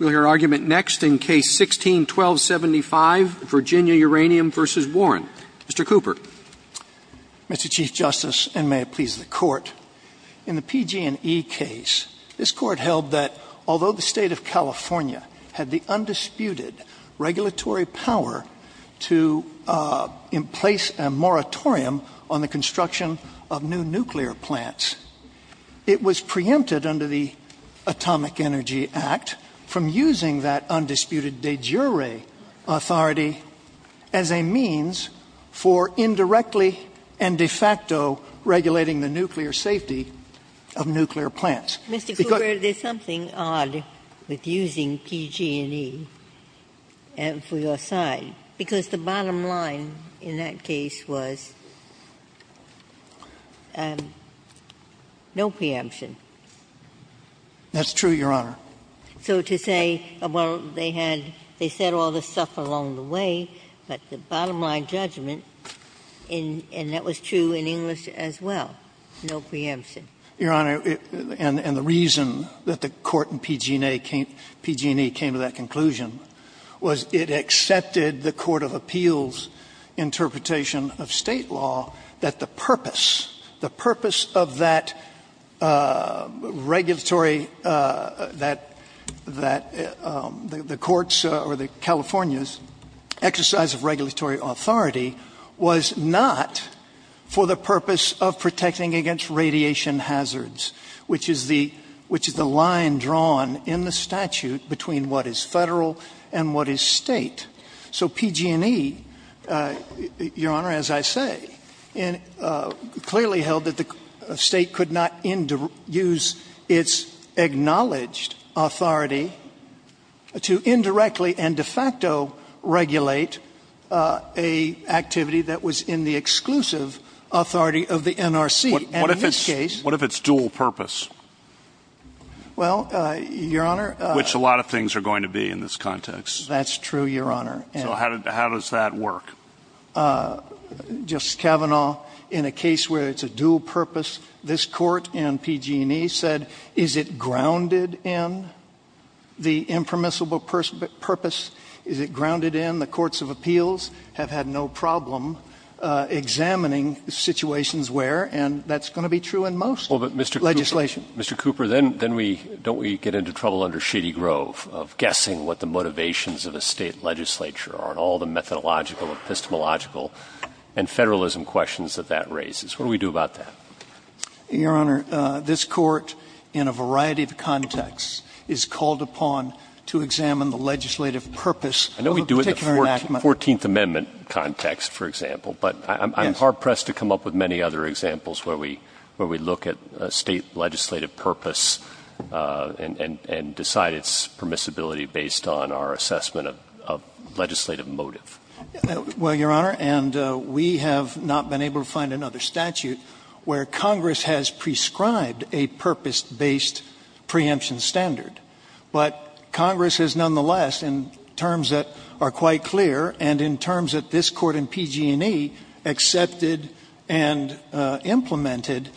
Mr. Chief Justice, and may it please the Court, in the PG&E case, this Court held that although the State of California had the undisputed regulatory power to place a moratorium on the construction of new nuclear plants, it was preempted under the Atomic Energy Act from the State of California to impose a moratorium on the construction of new nuclear plants. It was preempted from using that undisputed de jure authority as a means for indirectly and de facto regulating the nuclear safety of nuclear plants. Because the bottom line in that case was no preemption. That's true, Your Honor. So to say, well, they had they said all this stuff along the way, but the bottom line judgment, and that was true in English as well, no preemption. Your Honor, and the reason that the Court in PG&E came to that conclusion was it accepted the court of appeals' interpretation of State law that the purpose of that regulatory, that the courts or the California's exercise of regulatory authority was not for the purpose of protecting against radiation hazards, which is the line drawn in the statute between what is Federal and what is State. So PG&E, Your Honor, as I say, clearly held that the State could not use its acknowledged authority to indirectly and de facto regulate an activity that was in the exclusive authority of the NRC, and in this case What if it's dual purpose? Well, Your Honor, Which a lot of things are going to be in this context. That's true, Your Honor. So how does that work? Justice Kavanaugh, in a case where it's a dual purpose, this Court in PG&E said, is it grounded in the impermissible purpose? Is it grounded in the courts of appeals have had no problem examining situations where, and that's going to be true in most legislation. Well, but Mr. Cooper, then we, don't we get into trouble under Shady Grove of guessing what the motivations of a State legislature are and all the methodological, epistemological, and Federalism questions that that raises. What do we do about that? Your Honor, this Court, in a variety of contexts, is called upon to examine the legislative purpose of a particular enactment. I know we do it in the 14th Amendment context, for example, but I'm hard-pressed to come up with many other examples where we look at a State legislative purpose and decide its permissibility based on our assessment of legislative motive. Well, Your Honor, and we have not been able to find another statute where Congress has prescribed a purpose-based preemption standard, but Congress has nonetheless in terms that are quite clear and in terms that this Court in PG&E accepted and implemented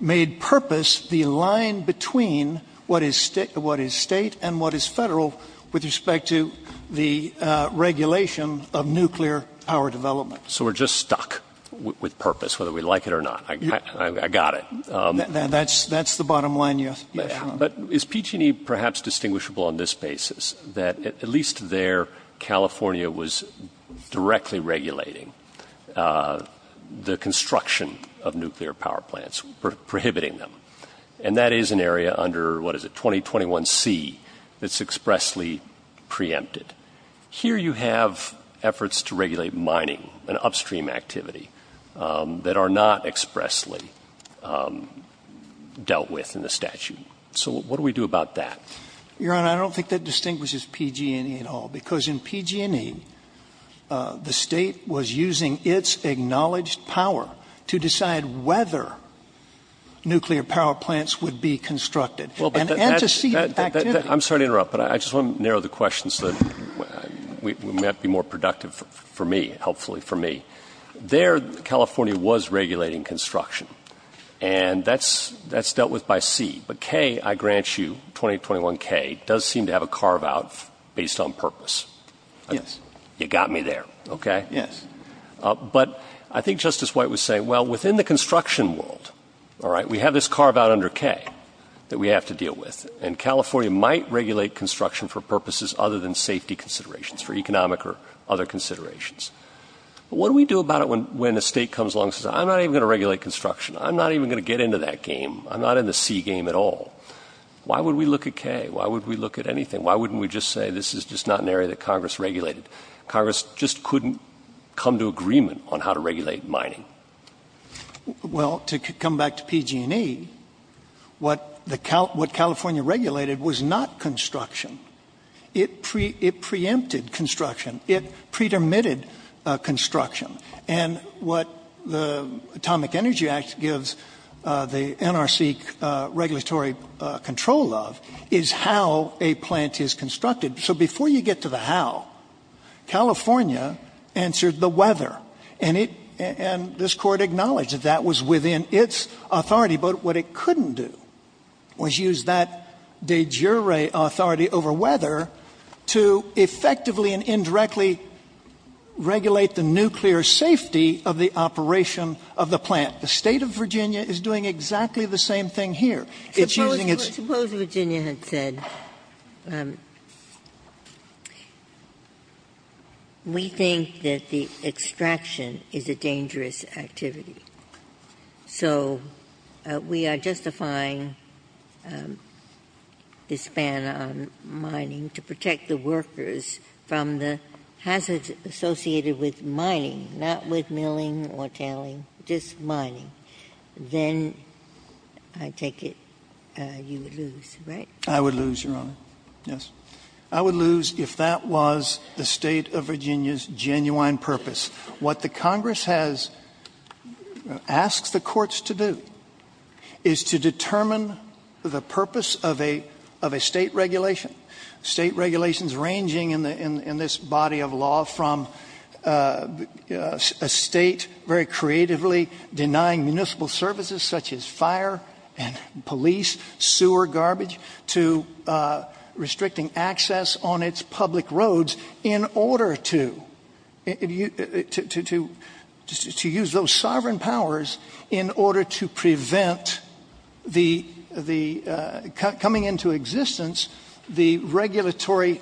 made purpose the line between what is State and what is Federal with respect to the regulation of nuclear power development. So we're just stuck with purpose, whether we like it or not. I got it. That's the bottom line, yes, Your Honor. But is PG&E perhaps distinguishable on this basis that at least there, California was directly regulating the construction of nuclear power plants, prohibiting them, and that is an area under, what is it, 2021C that's expressly preempted. Here you have efforts to regulate mining and upstream activity that are not expressly dealt with in the statute. So what do we do about that? Your Honor, I don't think that distinguishes PG&E at all, because in PG&E, the State was using its acknowledged power to decide whether nuclear power plants would be constructed. And to see the activity. I'm sorry to interrupt, but I just want to narrow the question so that we might be more productive for me, hopefully for me. There, California was regulating construction, and that's dealt with by C. But K, I grant you, 2021K, does seem to have a carve-out based on purpose. Yes. You got me there. Okay? Yes. But I think Justice White was saying, well, within the construction world, all right, we have this carve-out under K that we have to deal with. And California might regulate construction for purposes other than safety considerations, for economic or other considerations. But what do we do about it when a State comes along and says, I'm not even going to regulate construction. I'm not even going to get into that game. I'm not in the C game at all. Why would we look at K? Why would we look at anything? Why wouldn't we just say, this is just not an area that Congress regulated? Congress just couldn't come to agreement on how to regulate mining. Well, to come back to PG&E, what California regulated was not construction. It preempted construction. It pre-dermitted construction. And what the Atomic Energy Act gives the NRC regulatory control of is how a plant is constructed. So before you get to the how, California answered the whether. And this Court acknowledged that that was within its authority. But what it couldn't do was use that de jure authority over whether to effectively and indirectly regulate the nuclear safety of the operation of the plant. The State of Virginia is doing exactly the same thing here. It's using its ---- Ginsburg. Suppose Virginia had said, we think that the extraction is a dangerous activity. So we are justifying this ban on mining to protect the workers from the hazards associated with mining, not with milling or tallying, just mining. Then I take it you would lose, right? I would lose, Your Honor. Yes. I would lose if that was the State of Virginia's genuine purpose. What the Congress has asked the courts to do is to determine the purpose of a state regulation, state regulations ranging in this body of law from a state very creatively denying municipal services such as fire and police, sewer garbage, to restricting access on its public roads in order to use those sovereign powers in order to prevent the coming into existence the regulatory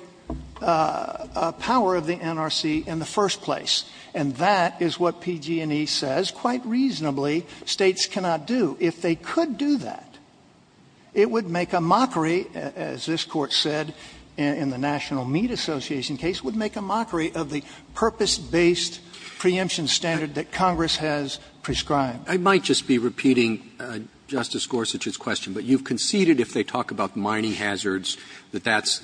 power of the NRC in the first place. And that is what PG&E says quite reasonably states cannot do. If they could do that, it would make a mockery, as this Court said in the National Meat Association case, it would make a mockery of the purpose-based preemption standard that Congress has prescribed. I might just be repeating Justice Gorsuch's question, but you conceded if they talk about mining hazards that that's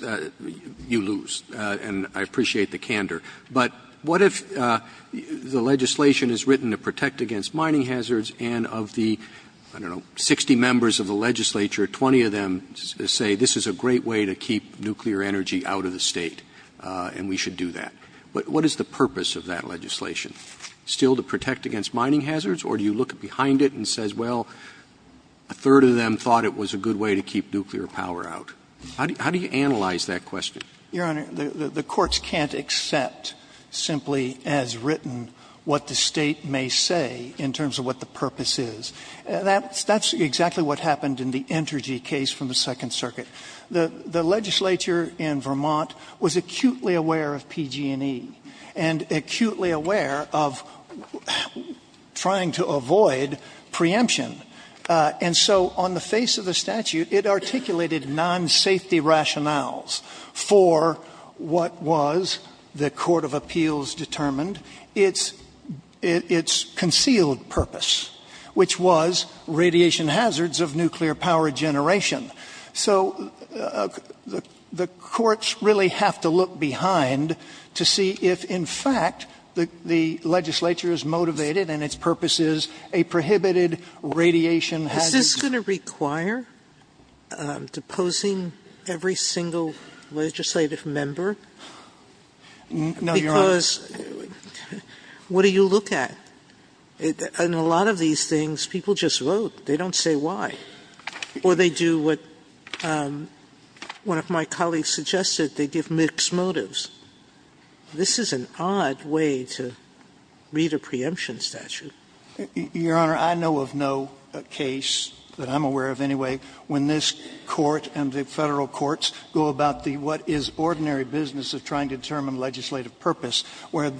you lose, and I appreciate the candor. But what if the legislation is written to protect against mining hazards and of the 60 members of the legislature, 20 of them say this is a great way to keep nuclear energy out of the State, and we should do that. What is the purpose of that legislation? Still to protect against mining hazards, or do you look behind it and say, well, a third of them thought it was a good way to keep nuclear power out? How do you analyze that question? Your Honor, the courts can't accept simply as written what the State may say in terms of what the purpose is. That's exactly what happened in the Entergy case from the Second Circuit. The legislature in Vermont was acutely aware of PG&E and acutely aware of trying to avoid preemption. And so on the face of the statute, it articulated non-safety rationales for what was, the Court of Appeals determined, its concealed purpose, which was radiation hazards of nuclear power generation. So the courts really have to look behind to see if, in fact, the legislature is motivated and its purpose is a prohibited radiation hazard. Is this going to require deposing every single legislative member? No, Your Honor. Because what do you look at? In a lot of these things, people just vote. They don't say why. Or they do what one of my colleagues suggested. They give mixed motives. This is an odd way to read a preemption statute. Your Honor, I know of no case that I'm aware of anyway when this Court and the Federal Courts go about the what is ordinary business of trying to determine legislative purpose where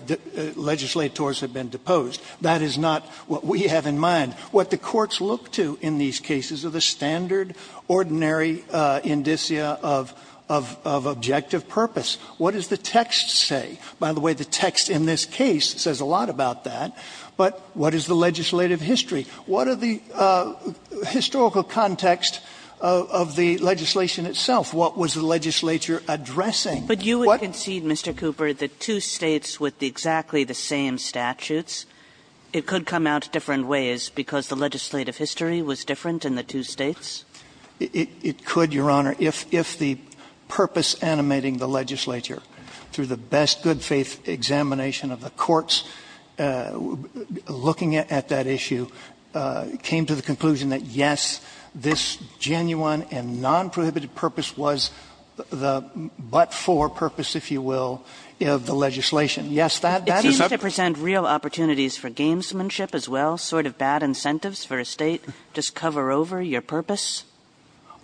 legislators have been deposed. That is not what we have in mind. What the courts look to in these cases are the standard, ordinary indicia of objective purpose. What does the text say? By the way, the text in this case says a lot about that. But what is the legislative history? What are the historical context of the legislation itself? What was the legislature addressing? But you would concede, Mr. Cooper, the two states with exactly the same statutes, it could come out different ways because the legislative history was different in the two states? It could, Your Honor. If the purpose animating the legislature through the best good faith examination of the courts looking at that issue came to the conclusion that, yes, this genuine and nonprohibited purpose was the but-for purpose, if you will, of the legislation. Yes, that is up. It seems to present real opportunities for gamesmanship as well, sort of bad incentives for a State to just cover over your purpose.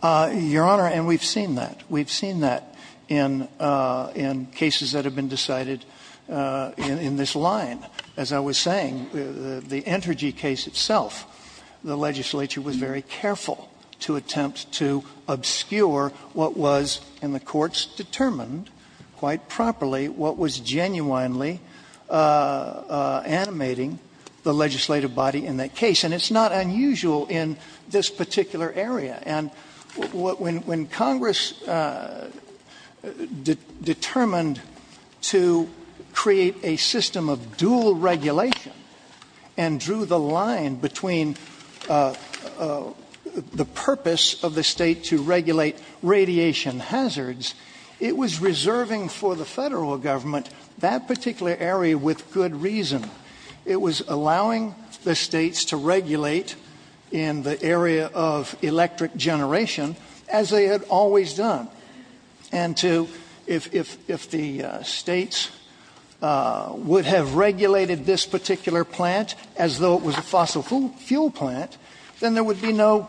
Your Honor, and we have seen that. We have seen that in cases that have been decided in this line. As I was saying, the Entergy case itself, the legislature was very careful to attempt to obscure what was in the courts determined quite properly what was genuinely animating the legislative body in that case. And it's not unusual in this particular area. And when Congress determined to create a system of dual regulation and drew the line between the purpose of the State to regulate radiation hazards, it was reserving for the Federal Government that particular area with good reason. It was allowing the States to regulate in the area of electric generation as they had always done. And to, if the States would have regulated this particular plant as though it was a fossil fuel plant, then there would be no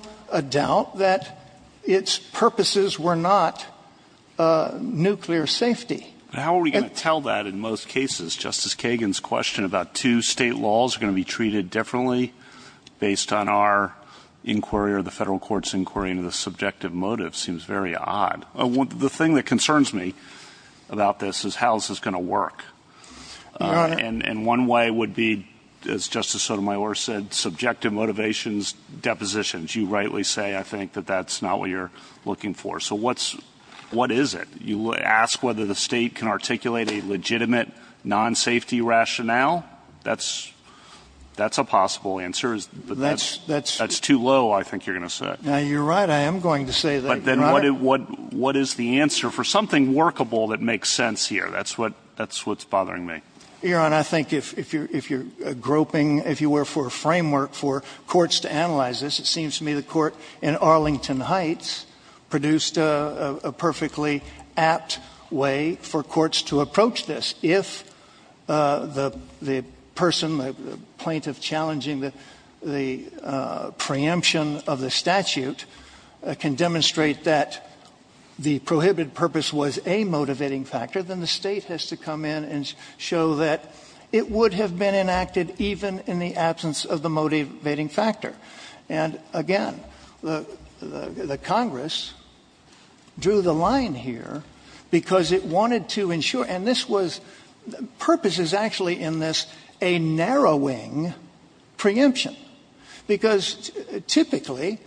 doubt that its purposes were not nuclear safety. But how are we going to tell that in most cases? Justice Kagan's question about two State laws are going to be treated differently based on our inquiry or the Federal Court's inquiry into the subjective motive seems very odd. The thing that concerns me about this is how this is going to work. Your Honor. And one way would be, as Justice Sotomayor said, subjective motivations, depositions. You rightly say, I think, that that's not what you're looking for. So what is it? You ask whether the State can articulate a legitimate non-safety rationale? That's a possible answer. That's too low, I think you're going to say. You're right. I am going to say that. But then what is the answer for something workable that makes sense here? That's what's bothering me. Your Honor, I think if you're groping, if you were for a framework for courts to analyze this, it seems to me the court in Arlington Heights produced a perfectly apt way for courts to approach this. If the person, the plaintiff challenging the preemption of the statute, can demonstrate that the prohibited purpose was a motivating factor, then the State has to come in and show that it would have been enacted even in the absence of the motivating factor. And again, the Congress drew the line here because it wanted to ensure, and this was, the purpose is actually in this, a narrowing preemption. Because typically,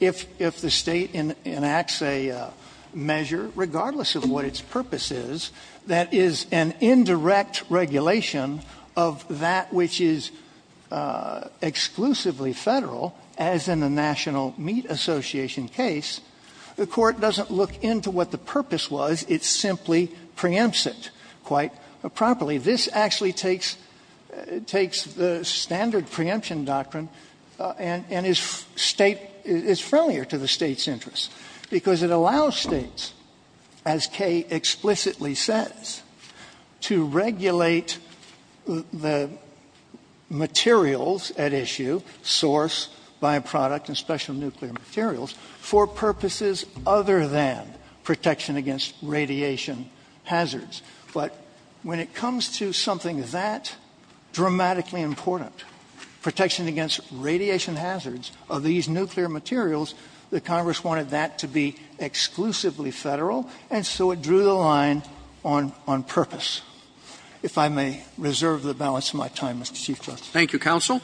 if the State enacts a measure, regardless of what its purpose is, that is an indirect regulation of that which is exclusively Federal, as in the National Meat Association case, the court doesn't look into what the purpose was. It simply preempts it quite properly. This actually takes the standard preemption doctrine and is State, it's friendlier to the State's interests, because it allows States, as Kay explicitly says, to regulate the materials at issue, source, by-product, and special nuclear materials, for purposes other than protection against radiation hazards. But when it comes to something that dramatically important, protection against radiation hazards of these nuclear materials, the Congress wanted that to be exclusively Federal, and so it drew the line on purpose. If I may reserve the balance of my time, Mr. Chief Justice. Roberts. Thank you, counsel.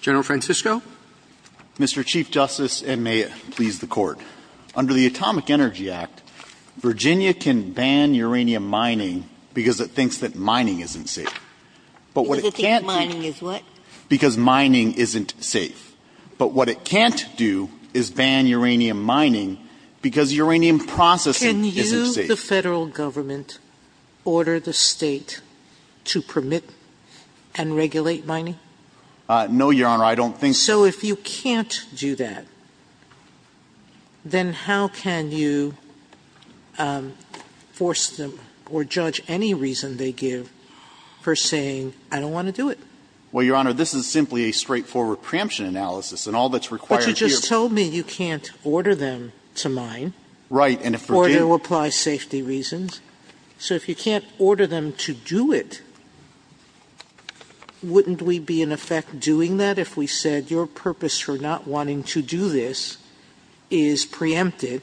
General Francisco. Mr. Chief Justice, and may it please the Court. Under the Atomic Energy Act, Virginia can ban uranium mining because it thinks that mining isn't safe. Because it thinks mining is what? Because mining isn't safe. But what it can't do is ban uranium mining because uranium processing isn't safe. Can you, the Federal Government, order the State to permit and regulate mining? No, Your Honor. I don't think so. So if you can't do that, then how can you force them or judge any reason they give for saying, I don't want to do it? Well, Your Honor, this is simply a straightforward preemption analysis. And all that's required here is to order them to do it. But you just told me you can't order them to mine. Right. Or to apply safety reasons. So if you can't order them to do it, wouldn't we be in effect doing that if we said your purpose for not wanting to do this is preempted?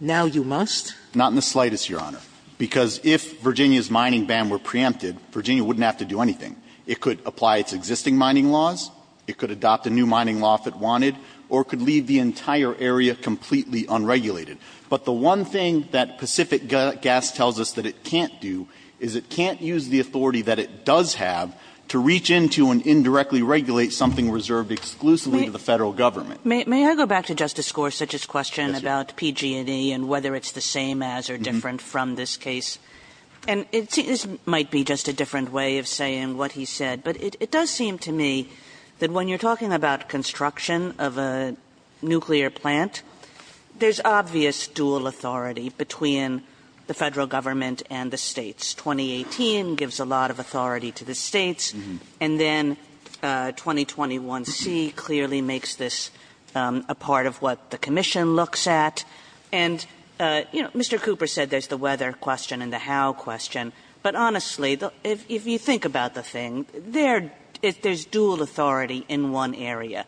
Now you must? Not in the slightest, Your Honor. Because if Virginia's mining ban were preempted, Virginia wouldn't have to do anything. It could apply its existing mining laws. It could adopt a new mining law if it wanted. Or it could leave the entire area completely unregulated. But the one thing that Pacific Gas tells us that it can't do is it can't use the authority that it does have to reach into and indirectly regulate something reserved exclusively to the Federal Government. May I go back to Justice Gorsuch's question about PG&E and whether it's the same as or different from this case? And this might be just a different way of saying what he said. But it does seem to me that when you're talking about construction of a nuclear plant, there's obvious dual authority between the Federal Government and the States. 2018 gives a lot of authority to the States. And then 2021C clearly makes this a part of what the Commission looks at. And, you know, Mr. Cooper said there's the whether question and the how question. But honestly, if you think about the thing, there's dual authority in one area.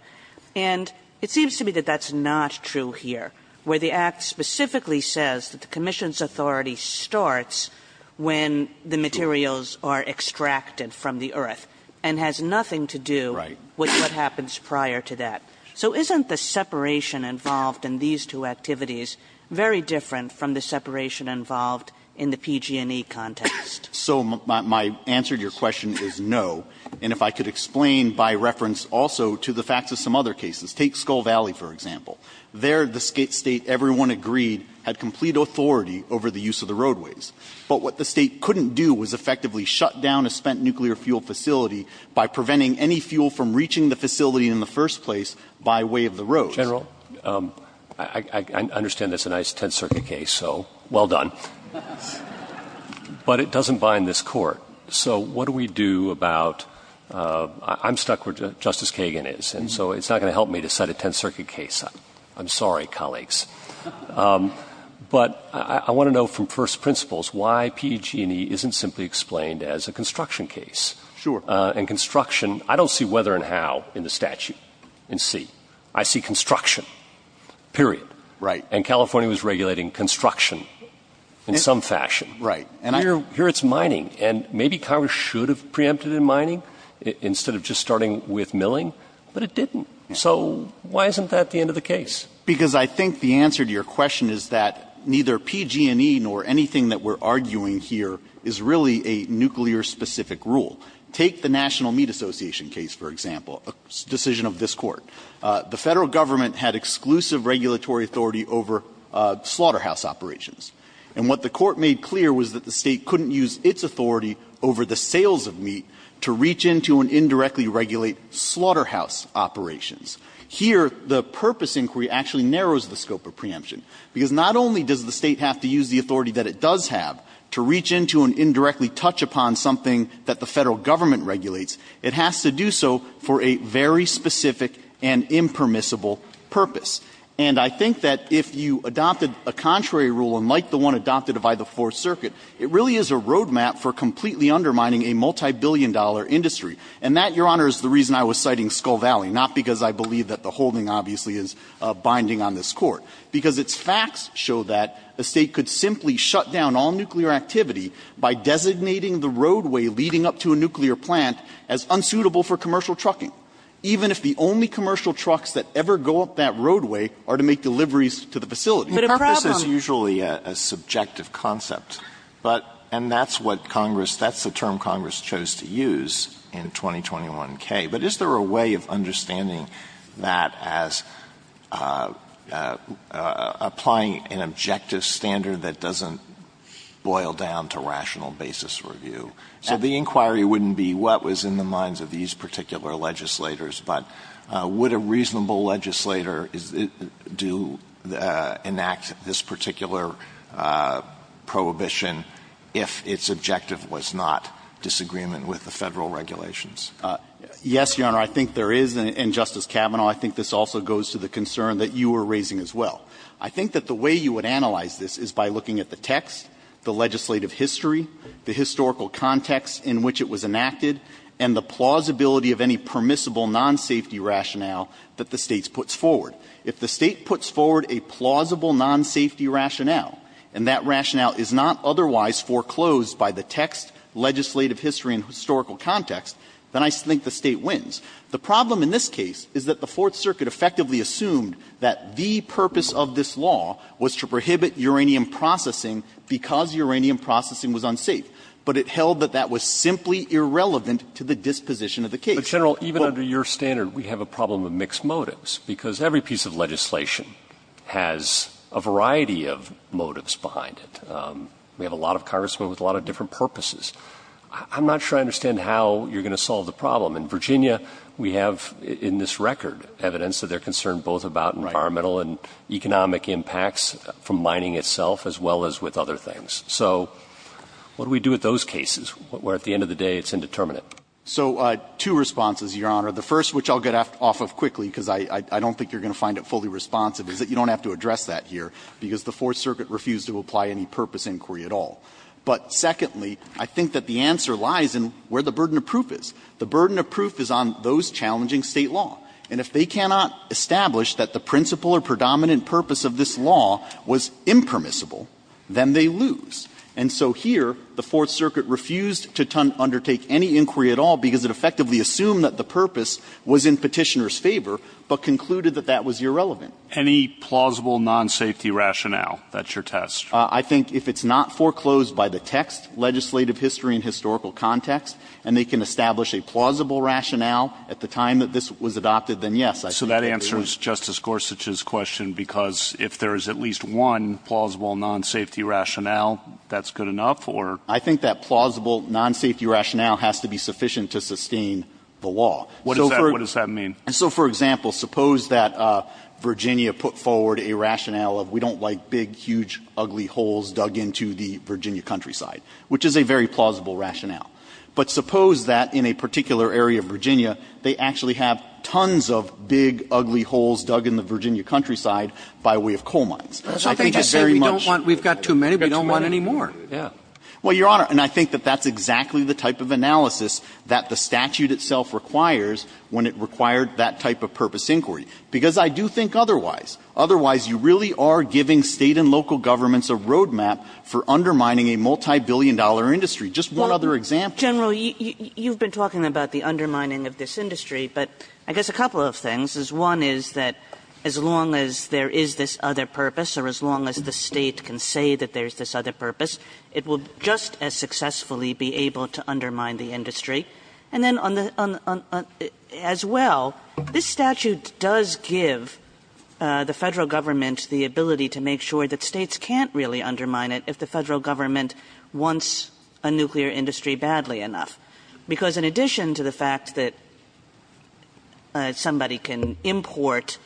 And it seems to me that that's not true here, where the Act specifically says that the Commission's authority starts when the materials are extracted from the earth and has nothing to do with what happens prior to that. So isn't the separation involved in these two activities very different from the separation involved in the PG&E context? So my answer to your question is no. And if I could explain by reference also to the facts of some other cases. Take Skull Valley, for example. There, the State, everyone agreed, had complete authority over the use of the roadways. But what the State couldn't do was effectively shut down a spent nuclear fuel facility by preventing any fuel from reaching the facility in the first place by way of the roads. General, I understand that's a nice Tenth Circuit case, so well done. But it doesn't bind this Court. So what do we do about – I'm stuck where Justice Kagan is, and so it's not going to help me to set a Tenth Circuit case. I'm sorry, colleagues. But I want to know from first principles why PG&E isn't simply explained as a construction case. Sure. And construction – I don't see whether and how in the statute in C. I see construction, period. Right. And California was regulating construction in some fashion. Right. Here it's mining. And maybe Congress should have preempted in mining instead of just starting with milling. But it didn't. So why isn't that the end of the case? Because I think the answer to your question is that neither PG&E nor anything that we're arguing here is really a nuclear-specific rule. Take the National Meat Association case, for example, a decision of this Court. The Federal Government had exclusive regulatory authority over slaughterhouse operations. And what the Court made clear was that the State couldn't use its authority over the sales of meat to reach into and indirectly regulate slaughterhouse operations. Here, the purpose inquiry actually narrows the scope of preemption, because not only does the State have to use the authority that it does have to reach into and indirectly touch upon something that the Federal Government regulates, it has to do so for a very specific and impermissible purpose. And I think that if you adopted a contrary rule, unlike the one adopted by the Fourth Circuit, it really is a roadmap for completely undermining a multibillion-dollar industry. And that, Your Honor, is the reason I was citing Skull Valley, not because I believe that the holding obviously is binding on this Court, because its facts show that a State could simply shut down all nuclear activity by designating the roadway leading up to a nuclear plant as unsuitable for commercial trucking, even if the only commercial trucks that ever go up that roadway are to make deliveries to the facility. But a purpose is usually a subjective concept. But and that's what Congress, that's the term Congress chose to use in 2021K. But is there a way of understanding that as applying an objective standard that doesn't boil down to rational basis review? So the inquiry wouldn't be what was in the minds of these particular legislators, but would a reasonable legislator do enact this particular prohibition if its objective was not disagreement with the Federal regulations? Yes, Your Honor, I think there is, and Justice Kavanaugh, I think this also goes to the concern that you were raising as well. I think that the way you would analyze this is by looking at the text, the legislative history, the historical context in which it was enacted, and the plausibility of any permissible non-safety rationale that the State puts forward. If the State puts forward a plausible non-safety rationale, and that rationale is not otherwise foreclosed by the text, legislative history, and historical context, then I think the State wins. The problem in this case is that the Fourth Circuit effectively assumed that the purpose of this law was to prohibit uranium processing because uranium processing was unsafe, but it held that that was simply irrelevant to the disposition of the case. But, General, even under your standard, we have a problem of mixed motives, because every piece of legislation has a variety of motives behind it. We have a lot of Congressmen with a lot of different purposes. I'm not sure I understand how you're going to solve the problem. In Virginia, we have in this record evidence that they're concerned both about environmental and economic impacts from mining itself as well as with other things. So what do we do with those cases, where at the end of the day it's indeterminate? So two responses, Your Honor. The first, which I'll get off of quickly, because I don't think you're going to find it fully responsive, is that you don't have to address that here, because the Fourth Circuit refused to apply any purpose inquiry at all. But secondly, I think that the answer lies in where the burden of proof is. The burden of proof is on those challenging State law. And if they cannot establish that the principal or predominant purpose of this law was impermissible, then they lose. And so here, the Fourth Circuit refused to undertake any inquiry at all, because it effectively assumed that the purpose was in Petitioner's favor, but concluded that that was irrelevant. Any plausible non-safety rationale? That's your test. I think if it's not foreclosed by the text, legislative history and historical context, and they can establish a plausible rationale at the time that this was adopted, then yes. So that answers Justice Gorsuch's question, because if there is at least one plausible non-safety rationale, that's good enough, or? I think that plausible non-safety rationale has to be sufficient to sustain the law. What does that mean? So, for example, suppose that Virginia put forward a rationale of, we don't like big, huge, ugly holes dug into the Virginia countryside, which is a very plausible rationale. But suppose that in a particular area of Virginia, they actually have tons of big, ugly holes dug in the Virginia countryside by way of coal mines. I think that's very much the case. We've got too many. We don't want any more. Well, Your Honor, and I think that that's exactly the type of analysis that the statute itself requires when it required that type of purpose inquiry. Because I do think otherwise. Otherwise, you really are giving State and local governments a roadmap for undermining a multibillion-dollar industry. Just one other example. General, you've been talking about the undermining of this industry, but I guess a couple of things. One is that as long as there is this other purpose, or as long as the State can say that there's this other purpose, it will just as successfully be able to undermine the industry. And then on the other as well, this statute does give the Federal Government wants a nuclear industry badly enough. Because in addition to the fact that somebody can import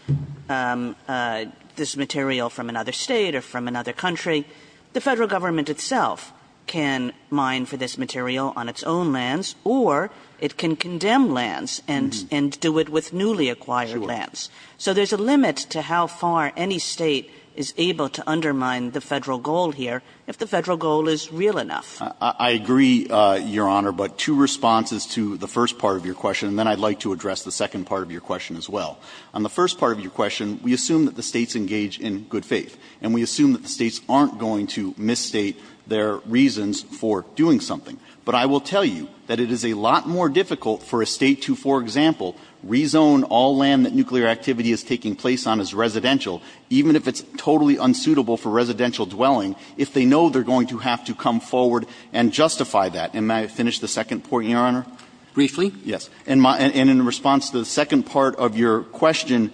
this material from another State or from another country, the Federal Government itself can mine for this material on its own lands, or it can condemn lands and do it with newly acquired lands. So there's a limit to how far any State is able to undermine the Federal goal here. If the Federal goal is real enough. I agree, Your Honor, but two responses to the first part of your question, and then I'd like to address the second part of your question as well. On the first part of your question, we assume that the States engage in good faith. And we assume that the States aren't going to misstate their reasons for doing something. But I will tell you that it is a lot more difficult for a State to, for example, rezone all land that nuclear activity is taking place on as residential, even if it's going to have to come forward and justify that. And may I finish the second point, Your Honor? Briefly? Yes. And in response to the second part of your question,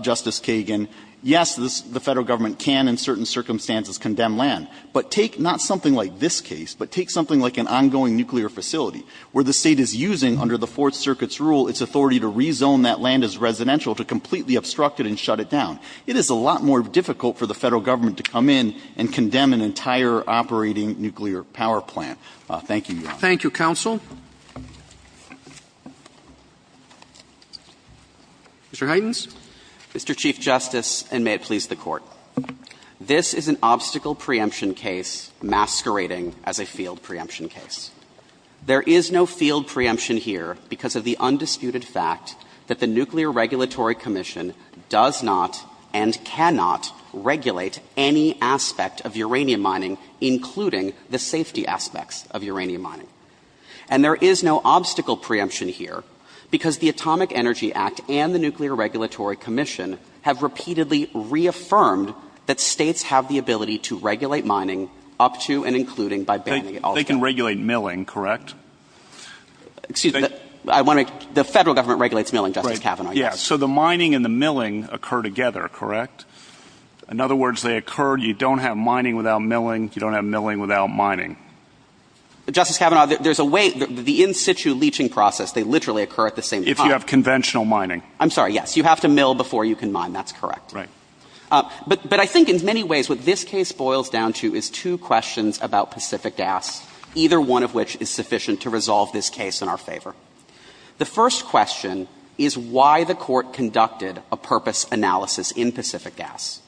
Justice Kagan, yes, the Federal Government can, in certain circumstances, condemn land. But take not something like this case, but take something like an ongoing nuclear facility, where the State is using, under the Fourth Circuit's rule, its authority to rezone that land as residential to completely obstruct it and shut it down. It is a lot more difficult for the Federal Government to come in and condemn an entire operating nuclear power plant. Thank you, Your Honor. Thank you, Counsel. Mr. Heidens? Mr. Chief Justice, and may it please the Court. This is an obstacle preemption case masquerading as a field preemption case. There is no field preemption here because of the undisputed fact that the Nuclear Regulatory Commission cannot and cannot regulate any aspect of uranium mining, including the safety aspects of uranium mining. And there is no obstacle preemption here because the Atomic Energy Act and the Nuclear Regulatory Commission have repeatedly reaffirmed that States have the ability to regulate mining up to and including by banning it altogether. They can regulate milling, correct? Excuse me. The Federal Government regulates milling, Justice Kavanaugh, yes. Yes, so the mining and the milling occur together, correct? In other words, they occur, you don't have mining without milling, you don't have milling without mining. Justice Kavanaugh, there's a way, the in situ leaching process, they literally occur at the same time. If you have conventional mining. I'm sorry, yes. You have to mill before you can mine, that's correct. Right. But I think in many ways what this case boils down to is two questions about Pacific Gas, either one of which is sufficient to resolve this case in our favor. The first question is why the Court conducted a purpose analysis in Pacific Gas?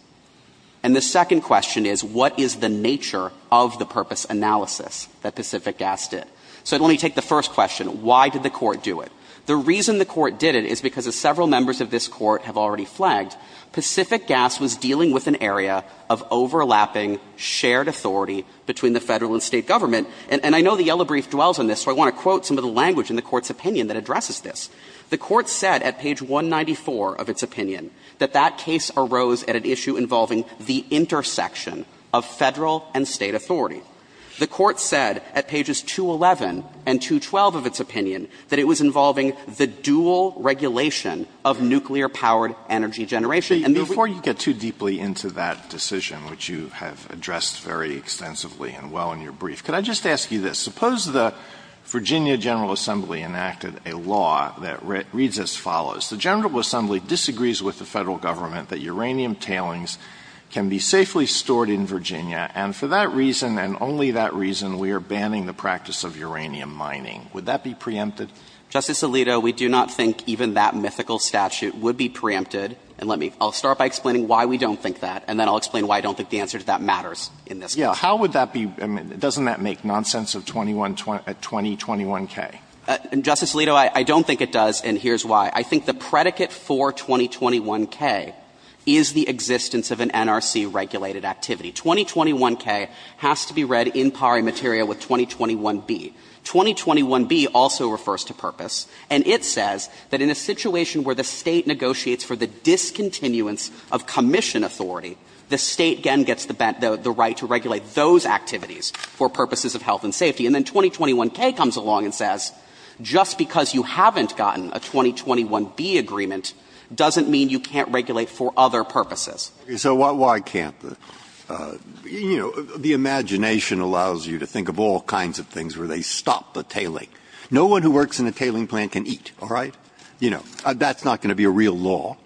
And the second question is what is the nature of the purpose analysis that Pacific Gas did? So let me take the first question, why did the Court do it? The reason the Court did it is because as several members of this Court have already flagged, Pacific Gas was dealing with an area of overlapping shared authority between the Federal and State Government. And I know the yellow brief dwells on this, so I want to quote some of the language in the Court's opinion that addresses this. The Court said at page 194 of its opinion that that case arose at an issue involving the intersection of Federal and State authority. The Court said at pages 211 and 212 of its opinion that it was involving the dual regulation of nuclear-powered energy generation. And the reason the Court did it is because as several members of this Court have already flagged, Pacific Gas was dealing with an area of overlapping shared authority between the Federal and State Government. And the Court said at page 191 of its opinion that it was involving the dual regulation of nuclear-powered energy generation. And the reason the Court did it is because as several members of this Court have already flagged, Pacific Gas was dealing with an issue involving the dual regulation of nuclear-powered energy generation. And the Court said at page 191 of its opinion that it was involving the dual regulation of nuclear-powered energy generation. And, Justice Alito, I don't think it does, and here's why. I think the predicate for 2021K is the existence of an NRC-regulated activity. 2021K has to be read in pari materia with 2021B. 2021B also refers to purpose. And it says that in a situation where the State negotiates for the discontinuance of commission authority, the State, again, gets the right to regulate those activities for purposes of health and safety. And then 2021K comes along and says, just because you haven't gotten a 2021B agreement doesn't mean you can't regulate for other purposes. So why can't? You know, the imagination allows you to think of all kinds of things where they stop the tailing. No one who works in a tailing plant can eat, all right? You know, that's not going to be a real law.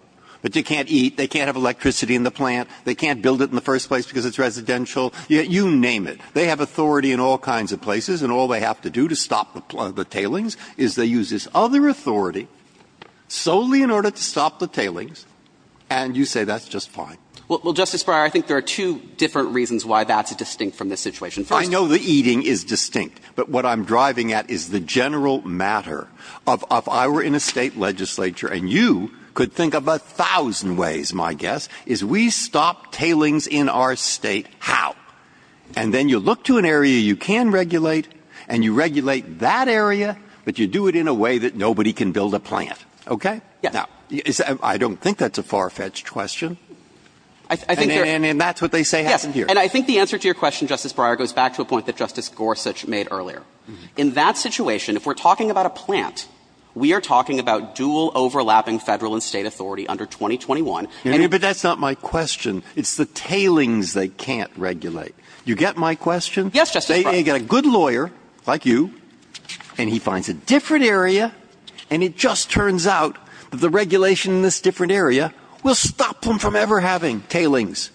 But they can't eat. They can't have electricity in the plant. They can't build it in the first place because it's residential. You name it. They have authority in all kinds of places. And all they have to do to stop the tailings is they use this other authority solely in order to stop the tailings. And you say that's just fine. Well, Justice Breyer, I think there are two different reasons why that's distinct from this situation. I know the eating is distinct. But what I'm driving at is the general matter of if I were in a State legislature and you could think of a thousand ways, my guess, is we stop tailings in our State. How? And then you look to an area you can regulate and you regulate that area, but you do it in a way that nobody can build a plant, okay? Now, I don't think that's a far-fetched question. And that's what they say happened here. And I think the answer to your question, Justice Breyer, goes back to a point that Justice Gorsuch made earlier. In that situation, if we're talking about a plant, we are talking about dual overlapping Federal and State authority under 2021. But that's not my question. It's the tailings they can't regulate. Do you get my question? Yes, Justice Breyer. They get a good lawyer, like you, and he finds a different area, and it just turns out that the regulation in this different area will stop them from ever having tailings.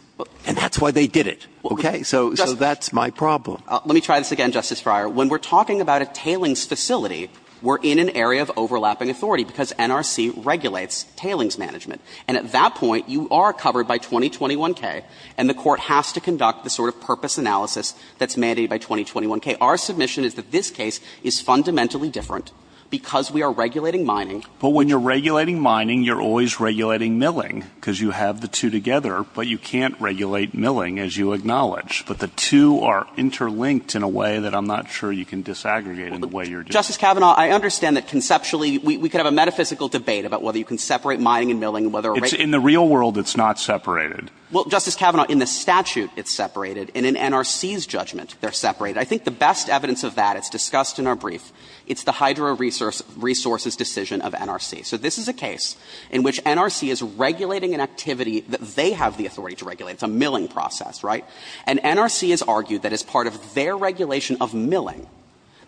And that's why they did it, okay? So that's my problem. Let me try this again, Justice Breyer. When we're talking about a tailings facility, we're in an area of overlapping authority because NRC regulates tailings management. And at that point, you are covered by 2021K, and the Court has to conduct the sort of purpose analysis that's mandated by 2021K. Our submission is that this case is fundamentally different because we are regulating mining. But when you're regulating mining, you're always regulating milling, because you have the two together, but you can't regulate milling, as you acknowledge. But the two are interlinked in a way that I'm not sure you can disaggregate in the way you're doing it. Justice Kavanaugh, I understand that conceptually we could have a metaphysical debate about whether you can separate mining and milling. In the real world, it's not separated. Well, Justice Kavanaugh, in the statute, it's separated. And in NRC's judgment, they're separated. I think the best evidence of that, it's discussed in our brief, it's the hydro resources decision of NRC. So this is a case in which NRC is regulating an activity that they have the authority to regulate. It's a milling process, right? And NRC has argued that as part of their regulation of milling,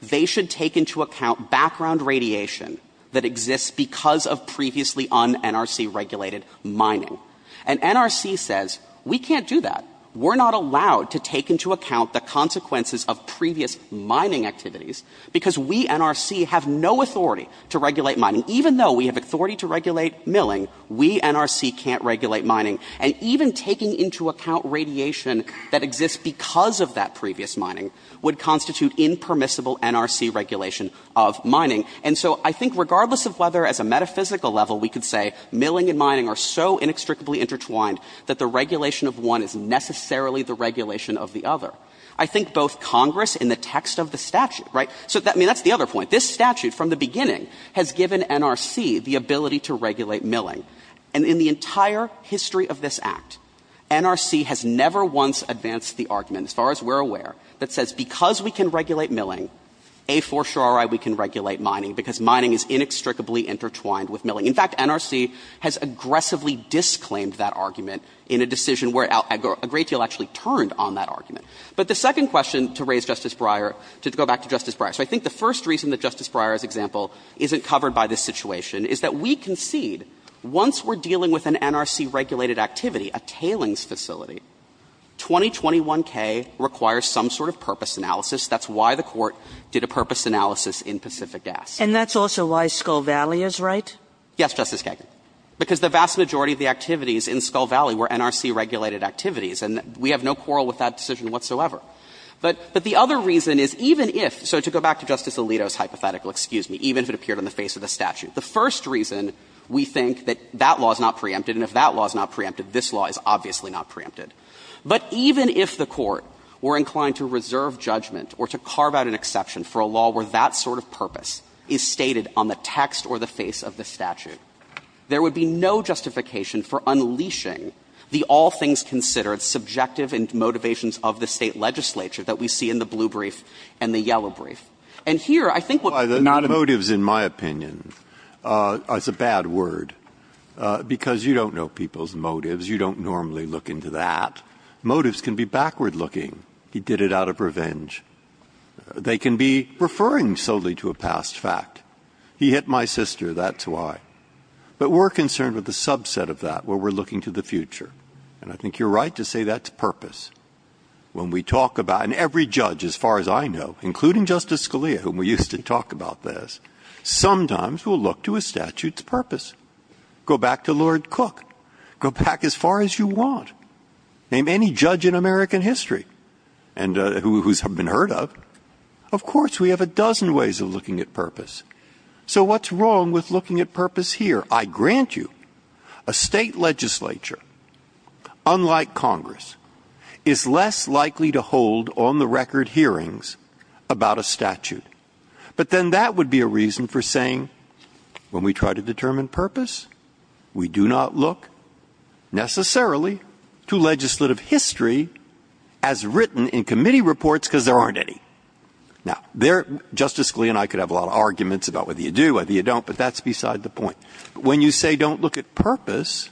they should take into account background radiation that exists because of previously un-NRC regulated mining. And NRC says, we can't do that. We're not allowed to take into account the consequences of previous mining activities, because we, NRC, have no authority to regulate mining. Even though we have authority to regulate milling, we, NRC, can't regulate mining. And even taking into account radiation that exists because of that previous mining, would constitute impermissible NRC regulation of mining. And so I think regardless of whether, as a metaphysical level, we could say milling and mining are so inextricably intertwined that the regulation of one is necessarily the regulation of the other. I think both Congress and the text of the statute, right? So that's the other point. This statute, from the beginning, has given NRC the ability to regulate milling. And in the entire history of this Act, NRC has never once advanced the argument, as far as we're aware, that says because we can regulate milling, A for sure, all right, we can regulate mining, because mining is inextricably intertwined with milling. In fact, NRC has aggressively disclaimed that argument in a decision where a great deal actually turned on that argument. But the second question, to raise Justice Breyer, to go back to Justice Breyer. So I think the first reason that Justice Breyer's example isn't covered by this situation is that we concede, once we're dealing with an NRC regulated activity, a tailings facility, 2021K requires some sort of purpose analysis. That's why the Court did a purpose analysis in Pacific Gas. And that's also why Skull Valley is right? Yes, Justice Kagan. Because the vast majority of the activities in Skull Valley were NRC regulated activities, and we have no quarrel with that decision whatsoever. But the other reason is, even if, so to go back to Justice Alito's hypothetical, excuse me, even if it appeared on the face of the statute. The first reason we think that that law is not preempted, and if that law is not preempted, this law is obviously not preempted. But even if the Court were inclined to reserve judgment or to carve out an exception for a law where that sort of purpose is stated on the text or the face of the statute, there would be no justification for unleashing the all-things-considered subjective and motivations of the State legislature that we see in the blue brief and the yellow brief. And here, I think what's not a motive in my opinion, it's a bad word, because you don't know people's motives. You don't normally look into that. Motives can be backward-looking. He did it out of revenge. They can be referring solely to a past fact. He hit my sister. That's why. But we're concerned with the subset of that where we're looking to the future. And I think you're right to say that's purpose. When we talk about, and every judge, as far as I know, including Justice Scalia, whom we used to talk about this, sometimes will look to a statute's purpose. Go back to Lord Cook. Go back as far as you want. Name any judge in American history who's been heard of. Of course, we have a dozen ways of looking at purpose. So what's wrong with looking at purpose here? I grant you, a State legislature, unlike Congress, is less likely to hold on-the-record hearings about a statute. But then that would be a reason for saying, when we try to determine purpose, we do not look necessarily to legislative history as written in committee reports because there aren't any. Now, Justice Scalia and I could have a lot of arguments about whether you do, whether you don't, but that's beside the point. When you say don't look at purpose,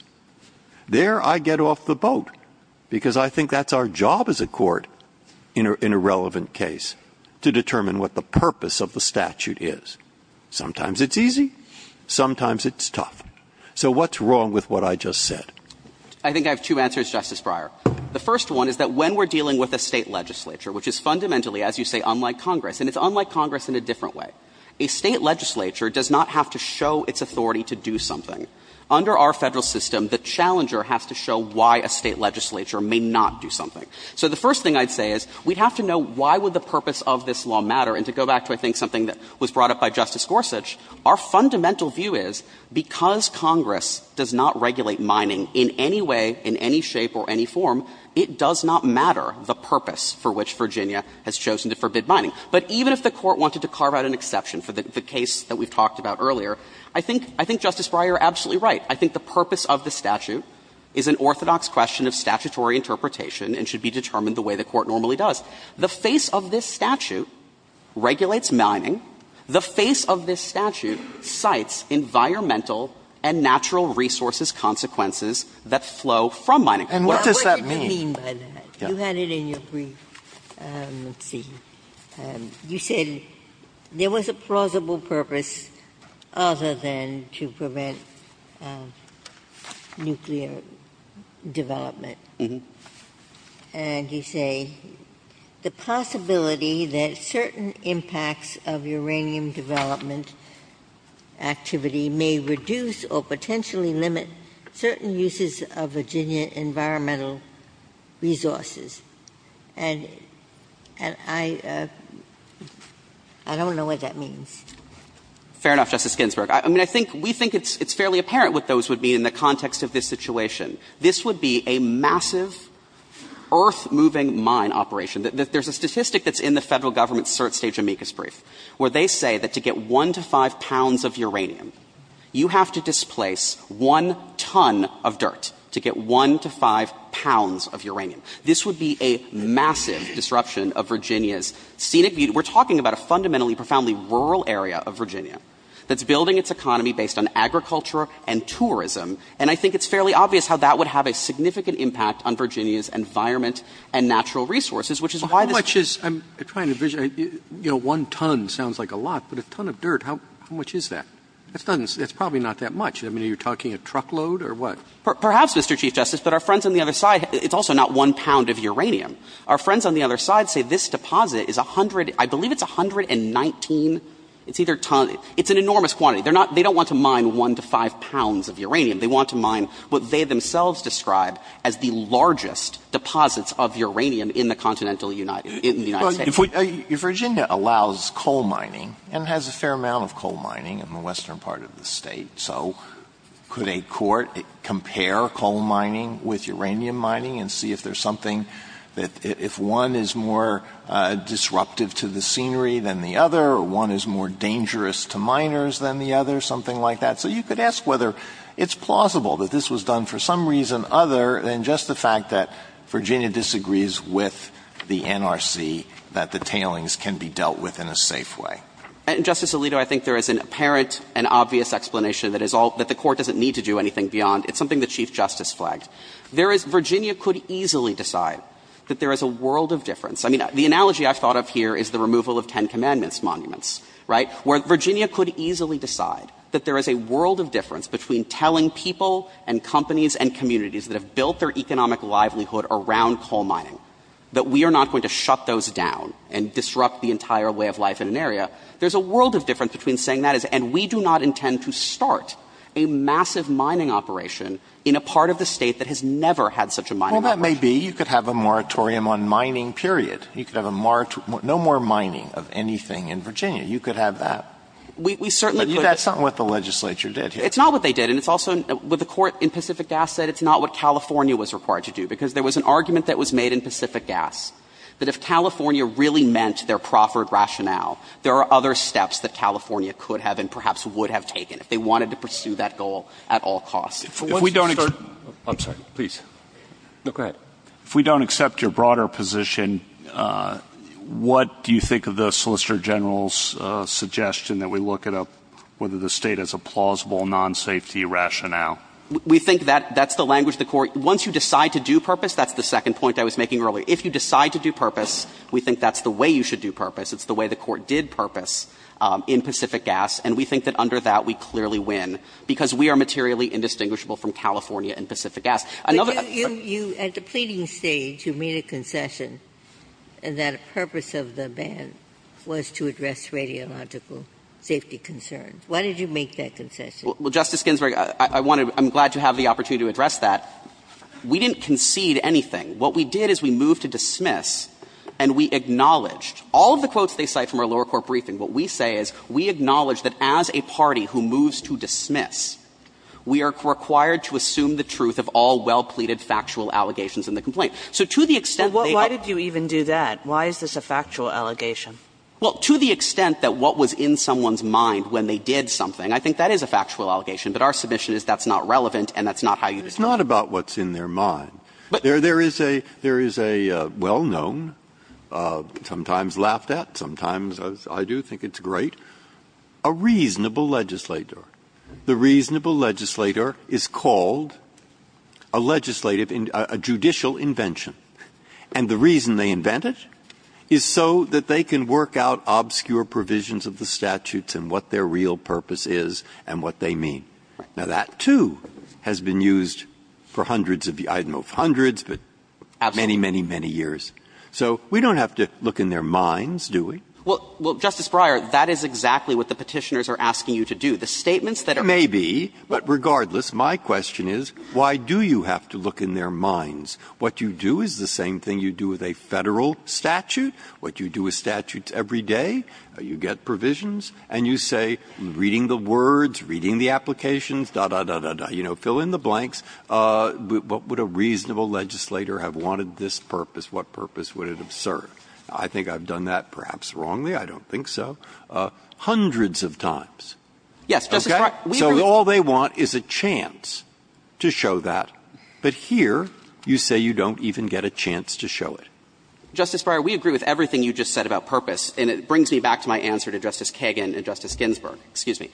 there I get off the boat because I think that's our job as a court in a relevant case to determine what the purpose of the statute is. Sometimes it's easy. Sometimes it's tough. So what's wrong with what I just said? I think I have two answers, Justice Breyer. The first one is that when we're dealing with a State legislature, which is fundamentally, as you say, unlike Congress, and it's unlike Congress in a different way, a State legislature does not have to show its authority to do something. Under our Federal system, the challenger has to show why a State legislature may not do something. So the first thing I'd say is we'd have to know why would the purpose of this law matter, and to go back to I think something that was brought up by Justice Gorsuch, our fundamental view is because Congress does not regulate mining in any way, in any shape or any form, it does not matter the purpose for which Virginia has chosen to forbid mining. But even if the Court wanted to carve out an exception for the case that we've talked about earlier, I think Justice Breyer is absolutely right. I think the purpose of the statute is an orthodox question of statutory interpretation and should be determined the way the Court normally does. The face of this statute regulates mining. The face of this statute cites environmental and natural resources consequences that flow from mining. And what does that mean? Ginsburg. You had it in your brief. Let's see. You said there was a plausible purpose other than to prevent nuclear development. And you say the possibility that certain impacts of uranium development activity may reduce or potentially limit certain uses of Virginia environmental resources. And I don't know what that means. Fair enough, Justice Ginsburg. I mean, I think we think it's fairly apparent what those would mean in the context of this situation. This would be a massive, earth-moving mine operation. There's a statistic that's in the Federal Government's cert stage amicus brief where they say that to get 1 to 5 pounds of uranium, you have to displace 1 ton of dirt to get 1 to 5 pounds of uranium. This would be a massive disruption of Virginia's scenic beauty. We're talking about a fundamentally, profoundly rural area of Virginia that's building its economy based on agriculture and tourism. And I think it's fairly obvious how that would have a significant impact on Virginia's environment and natural resources, which is why this case. I'm trying to envision. You know, 1 ton sounds like a lot. But a ton of dirt, how much is that? That's probably not that much. I mean, are you talking a truckload or what? Perhaps, Mr. Chief Justice. But our friends on the other side, it's also not 1 pound of uranium. Our friends on the other side say this deposit is 100, I believe it's 119, it's either ton, it's an enormous quantity. They're not, they don't want to mine 1 to 5 pounds of uranium. They want to mine what they themselves describe as the largest deposits of uranium in the continental United, in the United States. If Virginia allows coal mining and has a fair amount of coal mining in the western part of the state, so could a court compare coal mining with uranium mining and see if there's something that, if one is more disruptive to the scenery than the other or one is more dangerous to miners than the other, something like that. So you could ask whether it's plausible that this was done for some reason other than just the fact that Virginia disagrees with the NRC that the tailings can be dealt with in a safe way. And Justice Alito, I think there is an apparent and obvious explanation that is all, that the court doesn't need to do anything beyond. It's something that Chief Justice flagged. There is, Virginia could easily decide that there is a world of difference. I mean, the analogy I've thought of here is the removal of Ten Commandments monuments, right? Where Virginia could easily decide that there is a world of difference between telling people and companies and communities that have built their economic livelihood around coal mining that we are not going to shut those down and disrupt the entire way of life in an area. There's a world of difference between saying that is, and we do not intend to start a massive mining operation in a part of the State that has never had such a mining operation. Well, that may be. You could have a moratorium on mining, period. You could have a moratorium, no more mining of anything in Virginia. You could have that. We certainly could. But that's not what the legislature did here. It's not what they did. And it's also, what the court in Pacific Gas said, it's not what California was required to do, because there was an argument that was made in Pacific Gas that if California really meant their proffered rationale, there are other steps that California could have and perhaps would have taken if they wanted to pursue that goal at all costs. If we don't... I'm sorry. Please. No, go ahead. If we don't accept your broader position, what do you think of the Solicitor General's suggestion that we look at whether the State has a plausible non-safety rationale? We think that's the language of the court. Once you decide to do purpose, that's the second point I was making earlier. If you decide to do purpose, we think that's the way you should do purpose. It's the way the court did purpose in Pacific Gas, and we think that under that, we clearly win, because we are materially indistinguishable from California and Pacific Gas. But you, at the pleading stage, you made a concession, and that a purpose of the ban was to address radiological safety concerns. Why did you make that concession? Well, Justice Ginsburg, I'm glad to have the opportunity to address that. We didn't concede anything. What we did is we moved to dismiss, and we acknowledged. All of the quotes they cite from our lower court briefing, what we say is we acknowledge that as a party who moves to dismiss, we are required to assume the truth of all well pleaded factual allegations in the complaint. So to the extent they have to. Well, why did you even do that? Why is this a factual allegation? Well, to the extent that what was in someone's mind when they did something, I think that is a factual allegation, but our submission is that's not relevant and that's not how you do it. It's not about what's in their mind. There is a well known, sometimes laughed at, sometimes I do think it's great, a reasonable legislator. The reasonable legislator is called a legislative, a judicial invention. And the reason they invent it is so that they can work out obscure provisions of the statutes and what their real purpose is and what they mean. Now, that, too, has been used for hundreds of, I don't know, hundreds, but many, many, many years. So we don't have to look in their minds, do we? Well, Justice Breyer, that is exactly what the Petitioners are asking you to do. The statements that are. Maybe, but regardless, my question is why do you have to look in their minds? What you do is the same thing you do with a Federal statute, what you do with statutes every day. You get provisions and you say, reading the words, reading the applications, da, da, da, da, da, you know, fill in the blanks. What would a reasonable legislator have wanted this purpose? What purpose would it have served? I think I've done that perhaps wrongly. I don't think so. Hundreds of times. Okay? So all they want is a chance to show that. But here you say you don't even get a chance to show it. Justice Breyer, we agree with everything you just said about purpose. And it brings me back to my answer to Justice Kagan and Justice Ginsburg. Excuse me.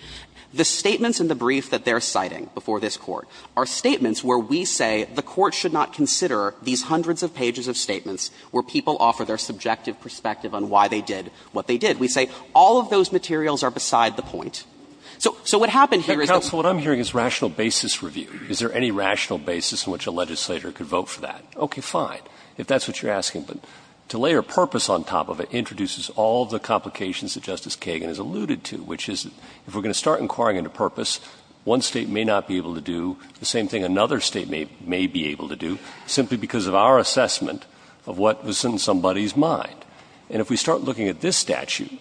The statements in the brief that they're citing before this Court are statements where we say the Court should not consider these hundreds of pages of statements where people offer their subjective perspective on why they did what they did. We say all of those materials are beside the point. So what happened here is that the Court should not consider these hundreds of pages of statements where people offer their subjective perspective on why they did what they did. But to layer purpose on top of it introduces all the complications that Justice Kagan has alluded to, which is if we're going to start inquiring into purpose, one state may not be able to do the same thing another state may be able to do, simply because of our assessment of what was in somebody's mind. And if we start looking at this statute,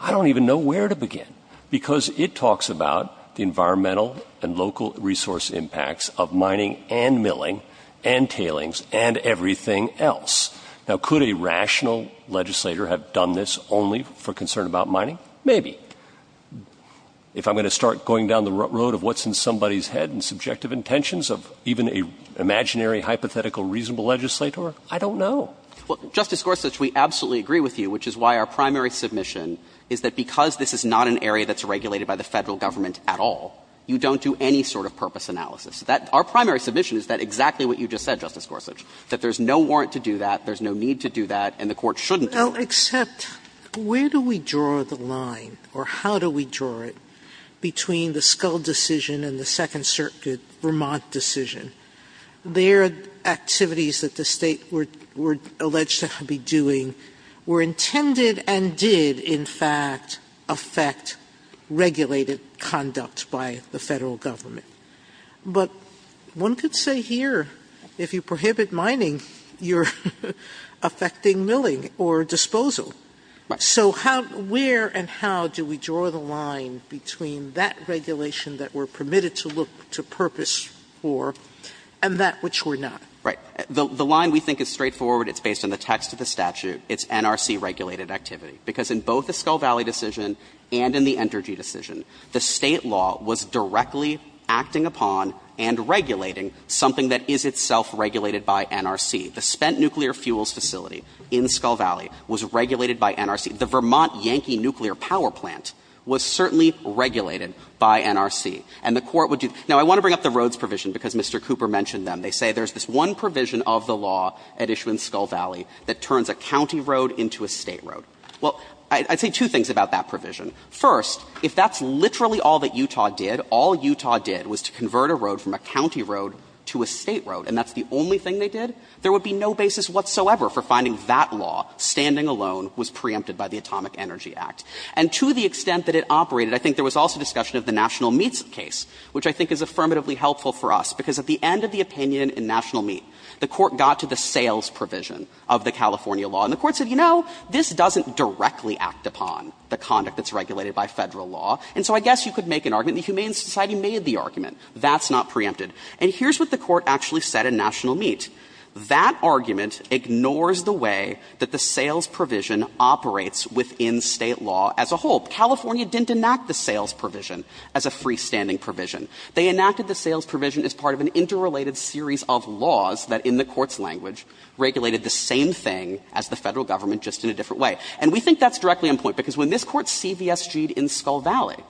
I don't even know where to begin. Because it talks about the environmental and local resource impacts of mining and milling and tailings and everything else. Now, could a rational legislator have done this only for concern about mining? Maybe. If I'm going to start going down the road of what's in somebody's head and subjective intentions of even an imaginary, hypothetical, reasonable legislator, I don't know. Well, Justice Gorsuch, we absolutely agree with you, which is why our primary submission is that because this is not an area that's regulated by the Federal Government at all, you don't do any sort of purpose analysis. Our primary submission is that exactly what you just said, Justice Gorsuch, that there's no warrant to do that, there's no need to do that, and the Court shouldn't Sotomayor, where do we draw the line, or how do we draw it, between the Skull decision and the Second Circuit Vermont decision? Their activities that the State were alleged to be doing were intended and did, in fact, affect regulated conduct by the Federal Government. But one could say here, if you prohibit mining, you're affecting milling or disposal. Right. So how – where and how do we draw the line between that regulation that we're permitted to look to purpose for and that which we're not? Right. The line we think is straightforward. It's based on the text of the statute. It's NRC-regulated activity, because in both the Skull Valley decision and in the Skull Valley decision, the State was acting upon and regulating something that is itself regulated by NRC. The spent nuclear fuels facility in Skull Valley was regulated by NRC. The Vermont Yankee nuclear power plant was certainly regulated by NRC. And the Court would do – now, I want to bring up the roads provision, because Mr. Cooper mentioned them. They say there's this one provision of the law at issue in Skull Valley that turns a county road into a State road. Well, I'd say two things about that provision. First, if that's literally all that Utah did, all Utah did was to convert a road from a county road to a State road, and that's the only thing they did, there would be no basis whatsoever for finding that law standing alone was preempted by the Atomic Energy Act. And to the extent that it operated, I think there was also discussion of the National Meats case, which I think is affirmatively helpful for us, because at the end of the opinion in National Meat, the Court got to the sales provision of the California And the Court said, you know, this doesn't directly act upon the conduct that's regulated by Federal law, and so I guess you could make an argument. The Humane Society made the argument. That's not preempted. And here's what the Court actually said in National Meat. That argument ignores the way that the sales provision operates within State law as a whole. California didn't enact the sales provision as a freestanding provision. They enacted the sales provision as part of an interrelated series of laws that, in the Court's language, regulated the same thing as the Federal government, just in a different way. And we think that's directly on point, because when this Court CVSG-ed in Skull Valley,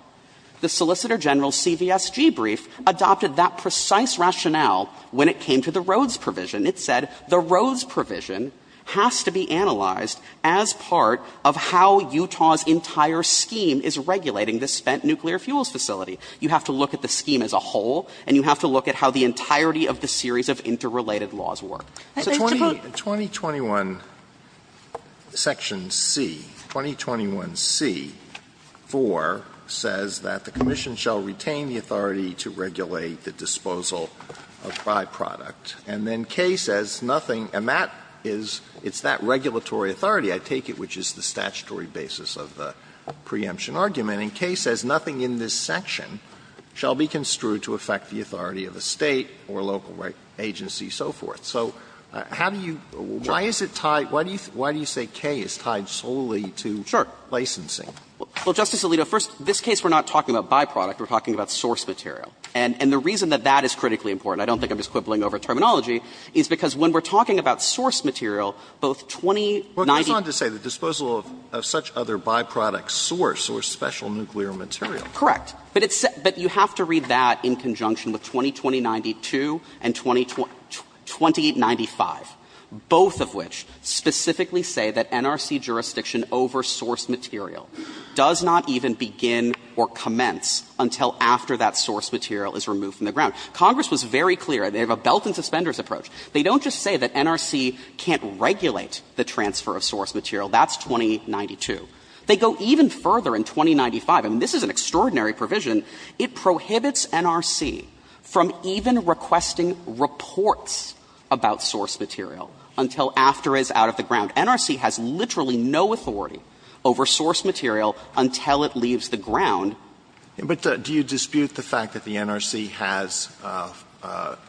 the Solicitor General's CVSG brief adopted that precise rationale when it came to the Rhodes provision. It said the Rhodes provision has to be analyzed as part of how Utah's entire scheme is regulating the spent nuclear fuels facility. You have to look at the scheme as a whole, and you have to look at how the entirety of the series of interrelated laws work. So 20 21 section C, 20 21C, 4, says that the Commission shall retain the authority to regulate the disposal of byproduct. And then K says nothing, and that is that regulatory authority, I take it, which is the statutory basis of the preemption argument. And K says nothing in this section shall be construed to affect the authority of a State or local agency, so forth. So how do you – why is it tied – why do you say K is tied solely to licensing? Sure. Well, Justice Alito, first, this case we're not talking about byproduct. We're talking about source material. And the reason that that is critically important, I don't think I'm just quibbling over terminology, is because when we're talking about source material, both 20 19 Well, it goes on to say the disposal of such other byproducts source or special nuclear material. But it's – but you have to read that in conjunction with 20 20 92 and 20 – 20 95, both of which specifically say that NRC jurisdiction over source material does not even begin or commence until after that source material is removed from the ground. Congress was very clear. They have a belt and suspenders approach. They don't just say that NRC can't regulate the transfer of source material. That's 20 92. They go even further in 20 95. I mean, this is an extraordinary provision. It prohibits NRC from even requesting reports about source material until after it's out of the ground. NRC has literally no authority over source material until it leaves the ground. But do you dispute the fact that the NRC has –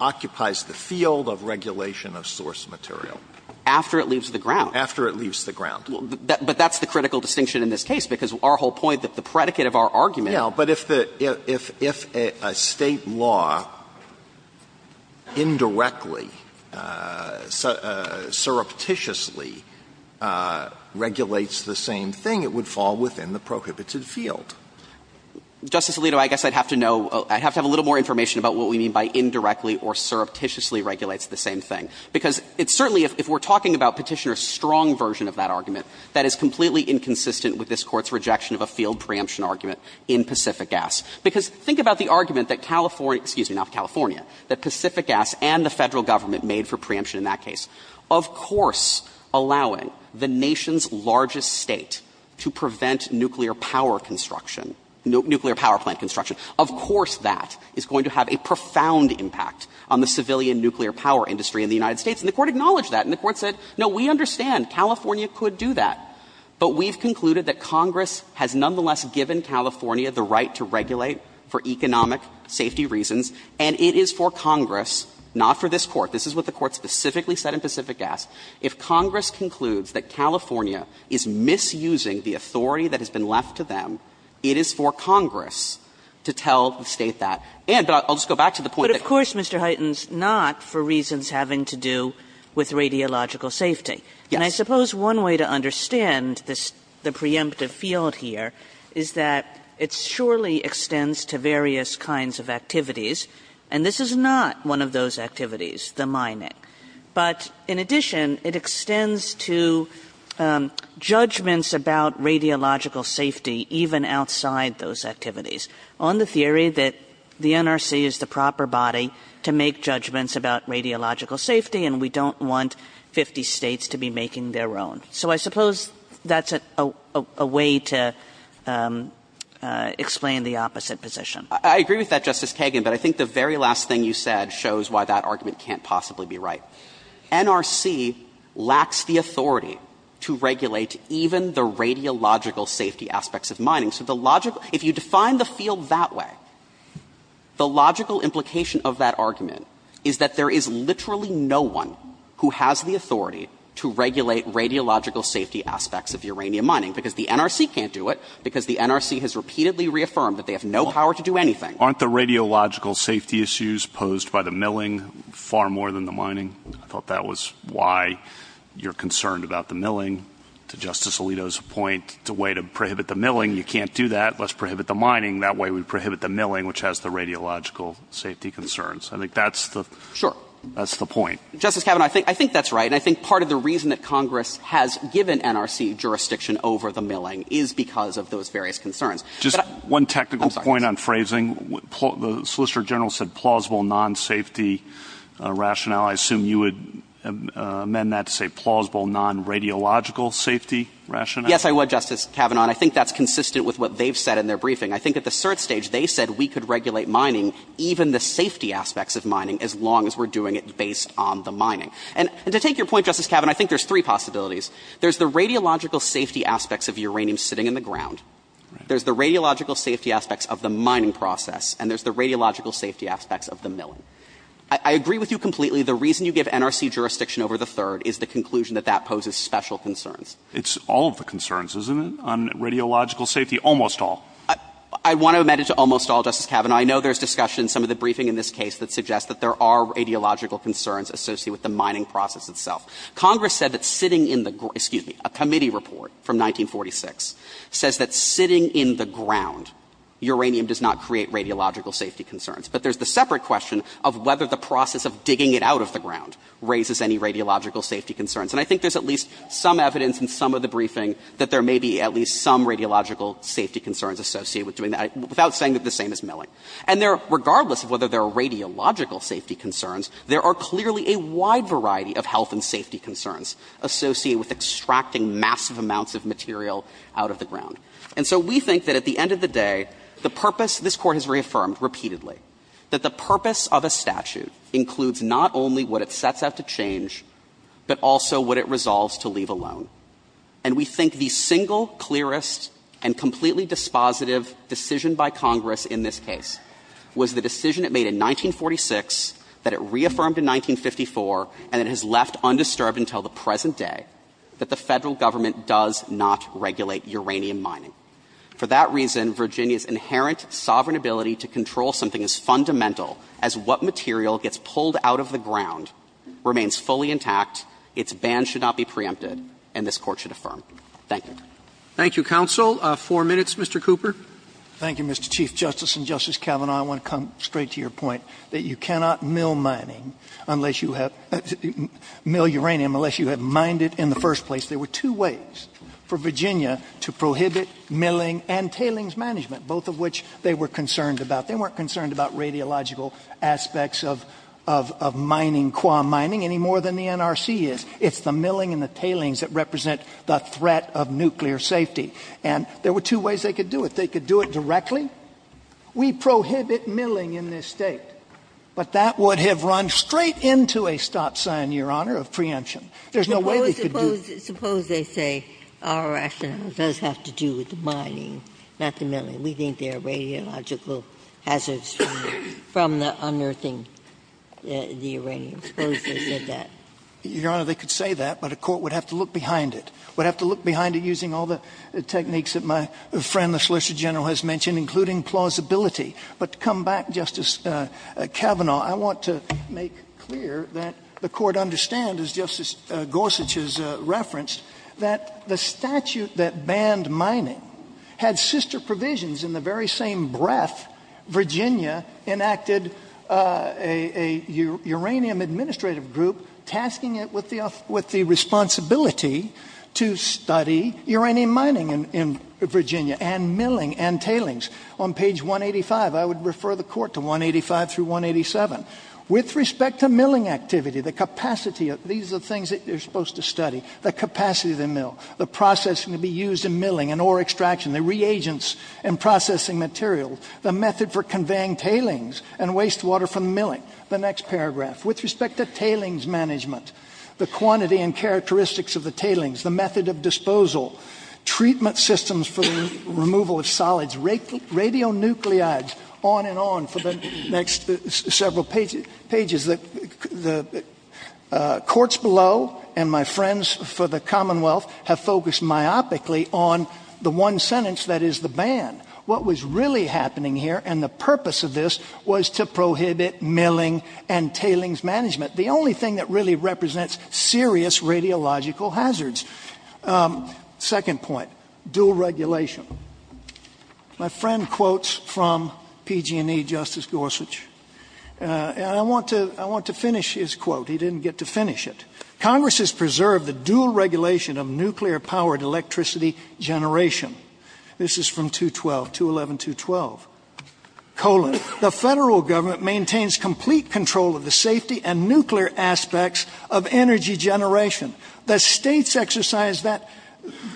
occupies the field of regulation of source material? After it leaves the ground. After it leaves the ground. But that's the critical distinction in this case, because our whole point, that is the predicate of our argument. Yeah, but if the – if a State law indirectly, surreptitiously regulates the same thing, it would fall within the prohibited field. Justice Alito, I guess I'd have to know – I'd have to have a little more information about what we mean by indirectly or surreptitiously regulates the same thing. Because it's certainly – if we're talking about Petitioner's strong version of that preemption argument in Pacific Gas. Because think about the argument that California – excuse me, not California – that Pacific Gas and the Federal Government made for preemption in that case. Of course, allowing the nation's largest State to prevent nuclear power construction – nuclear power plant construction, of course that is going to have a profound impact on the civilian nuclear power industry in the United States. And the Court acknowledged that. And the Court said, no, we understand. California could do that. But we've concluded that Congress has nonetheless given California the right to regulate for economic safety reasons, and it is for Congress, not for this Court – this is what the Court specifically said in Pacific Gas – if Congress concludes that California is misusing the authority that has been left to them, it is for Congress to tell the State that. And – but I'll just go back to the point that – But of course, Mr. Huytens, not for reasons having to do with radiological safety. Yes. And I suppose one way to understand this – the preemptive field here is that it surely extends to various kinds of activities, and this is not one of those activities, the mining. But in addition, it extends to judgments about radiological safety even outside those activities, on the theory that the NRC is the proper body to make judgments about radiological safety, and we don't want 50 States to be making their own. So I suppose that's a way to explain the opposite position. I agree with that, Justice Kagan, but I think the very last thing you said shows why that argument can't possibly be right. NRC lacks the authority to regulate even the radiological safety aspects of mining. So the logical – if you define the field that way, the logical implication of that argument is that there is literally no one who has the authority to regulate radiological safety aspects of uranium mining, because the NRC can't do it, because the NRC has repeatedly reaffirmed that they have no power to do anything. Aren't the radiological safety issues posed by the milling far more than the mining? I thought that was why you're concerned about the milling. To Justice Alito's point, it's a way to prohibit the milling. You can't do that. Let's prohibit the mining. That way we prohibit the milling, which has the radiological safety concerns. I think that's the – Sure. That's the point. Justice Kavanaugh, I think that's right, and I think part of the reason that Congress has given NRC jurisdiction over the milling is because of those various concerns. Just one technical point on phrasing. The Solicitor General said plausible non-safety rationale. I assume you would amend that to say plausible non-radiological safety rationale. Yes, I would, Justice Kavanaugh. And I think that's consistent with what they've said in their briefing. I think at the cert stage they said we could regulate mining, even the safety aspects of mining, as long as we're doing it based on the mining. And to take your point, Justice Kavanaugh, I think there's three possibilities. There's the radiological safety aspects of uranium sitting in the ground. There's the radiological safety aspects of the mining process. And there's the radiological safety aspects of the milling. I agree with you completely. The reason you give NRC jurisdiction over the third is the conclusion that that poses special concerns. It's all of the concerns, isn't it, on radiological safety? Almost all. I want to amend it to almost all, Justice Kavanaugh. I know there's discussion in some of the briefing in this case that suggests that there are radiological concerns associated with the mining process itself. Congress said that sitting in the ground, excuse me, a committee report from 1946 says that sitting in the ground, uranium does not create radiological safety concerns. But there's the separate question of whether the process of digging it out of the ground raises any radiological safety concerns. And I think there's at least some evidence in some of the briefing that there may be at least some radiological safety concerns associated with doing that, without saying that the same is milling. And regardless of whether there are radiological safety concerns, there are clearly a wide variety of health and safety concerns associated with extracting massive amounts of material out of the ground. And so we think that at the end of the day, the purpose, this Court has reaffirmed repeatedly, that the purpose of a statute includes not only what it sets out to change, but also what it resolves to leave alone. And we think the single clearest and completely dispositive decision by Congress in this case was the decision it made in 1946, that it reaffirmed in 1954, and it has left undisturbed until the present day, that the Federal Government does not regulate uranium mining. For that reason, Virginia's inherent sovereign ability to control something as fundamental as what material gets pulled out of the ground remains fully intact, its bans should not be preempted, and this Court should affirm. Thank you. Roberts. Thank you, counsel. Four minutes, Mr. Cooper. Thank you, Mr. Chief Justice and Justice Kavanaugh. I want to come straight to your point that you cannot mill mining unless you have to mill uranium unless you have mined it in the first place. There were two ways for Virginia to prohibit milling and tailings management, both of which they were concerned about. They weren't concerned about radiological aspects of mining, quam mining, any more than the NRC is. It's the milling and the tailings that represent the threat of nuclear safety. And there were two ways they could do it. They could do it directly. We prohibit milling in this State. But that would have run straight into a stop sign, Your Honor, of preemption. There's no way they could do it. Suppose they say our rationale does have to do with the mining, not the milling. We think there are radiological hazards from the unearthing the uranium. Suppose they said that. Your Honor, they could say that, but a court would have to look behind it, would have to look behind it using all the techniques that my friend, the Solicitor General, has mentioned, including plausibility. But to come back, Justice Kavanaugh, I want to make clear that the Court understands, as Justice Gorsuch has referenced, that the statute that banned mining had sister provisions. In the very same breath, Virginia enacted a uranium administrative group tasking it with the responsibility to study uranium mining in Virginia and milling and tailings. On page 185, I would refer the Court to 185 through 187. With respect to milling activity, the capacity, these are the things that you're supposed to study. The capacity of the mill, the processing to be used in milling and ore extraction, the reagents and processing material, the method for conveying tailings and wastewater from milling. The next paragraph. With respect to tailings management, the quantity and characteristics of the tailings, the method of disposal, treatment systems for removal of solids, radionuclides, on and on for the next several pages. The courts below and my friends for the Commonwealth have focused myopically on the one sentence that is the ban. What was really happening here and the purpose of this was to prohibit milling and tailings management. The only thing that really represents serious radiological hazards. Second point. Dual regulation. My friend quotes from PG&E, Justice Gorsuch, and I want to finish his quote. He didn't get to finish it. Congress has preserved the dual regulation of nuclear powered electricity generation. This is from 212, 211, 212. The federal government maintains complete control of the safety and nuclear aspects of energy generation. The states exercise that,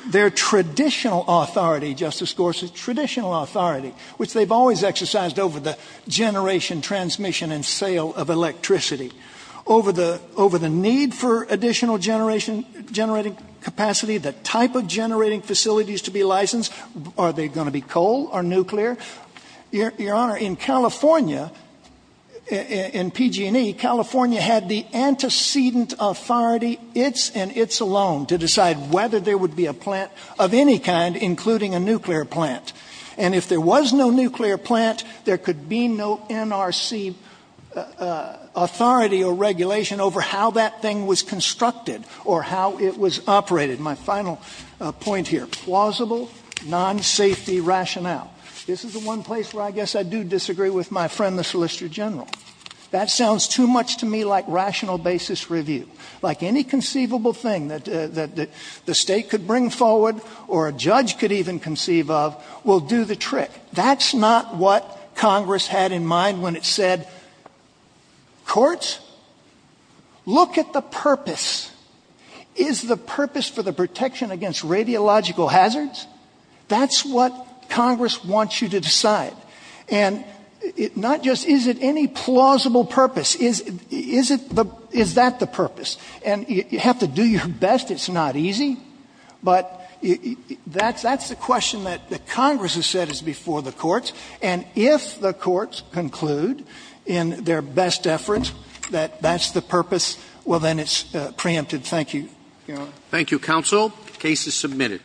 their traditional authority, Justice Gorsuch, traditional authority, which they've always exercised over the generation transmission and sale of electricity. Over the need for additional generating capacity, the type of generating facilities to be licensed, are they going to be coal or nuclear? Your Honor, in California, in PG&E, California had the antecedent authority, its and its alone, to decide whether there would be a plant of any kind, including a nuclear plant. And if there was no nuclear plant, there could be no NRC authority or regulation over how that thing was constructed or how it was operated. My final point here. Plausible, non-safety rationale. This is the one place where I guess I do disagree with my friend, the Solicitor General. That sounds too much to me like rational basis review. Like any conceivable thing that the state could bring forward or a judge could even conceive of, will do the trick. That's not what Congress had in mind when it said, courts, look at the purpose. Is the purpose for the protection against radiological hazards? That's what Congress wants you to decide. And not just is it any plausible purpose, is that the purpose? And you have to do your best, it's not easy. But that's the question that Congress has said is before the courts. And if the courts conclude in their best effort that that's the purpose, well, then it's preempted. Thank you, Your Honor. Thank you, counsel. The case is submitted.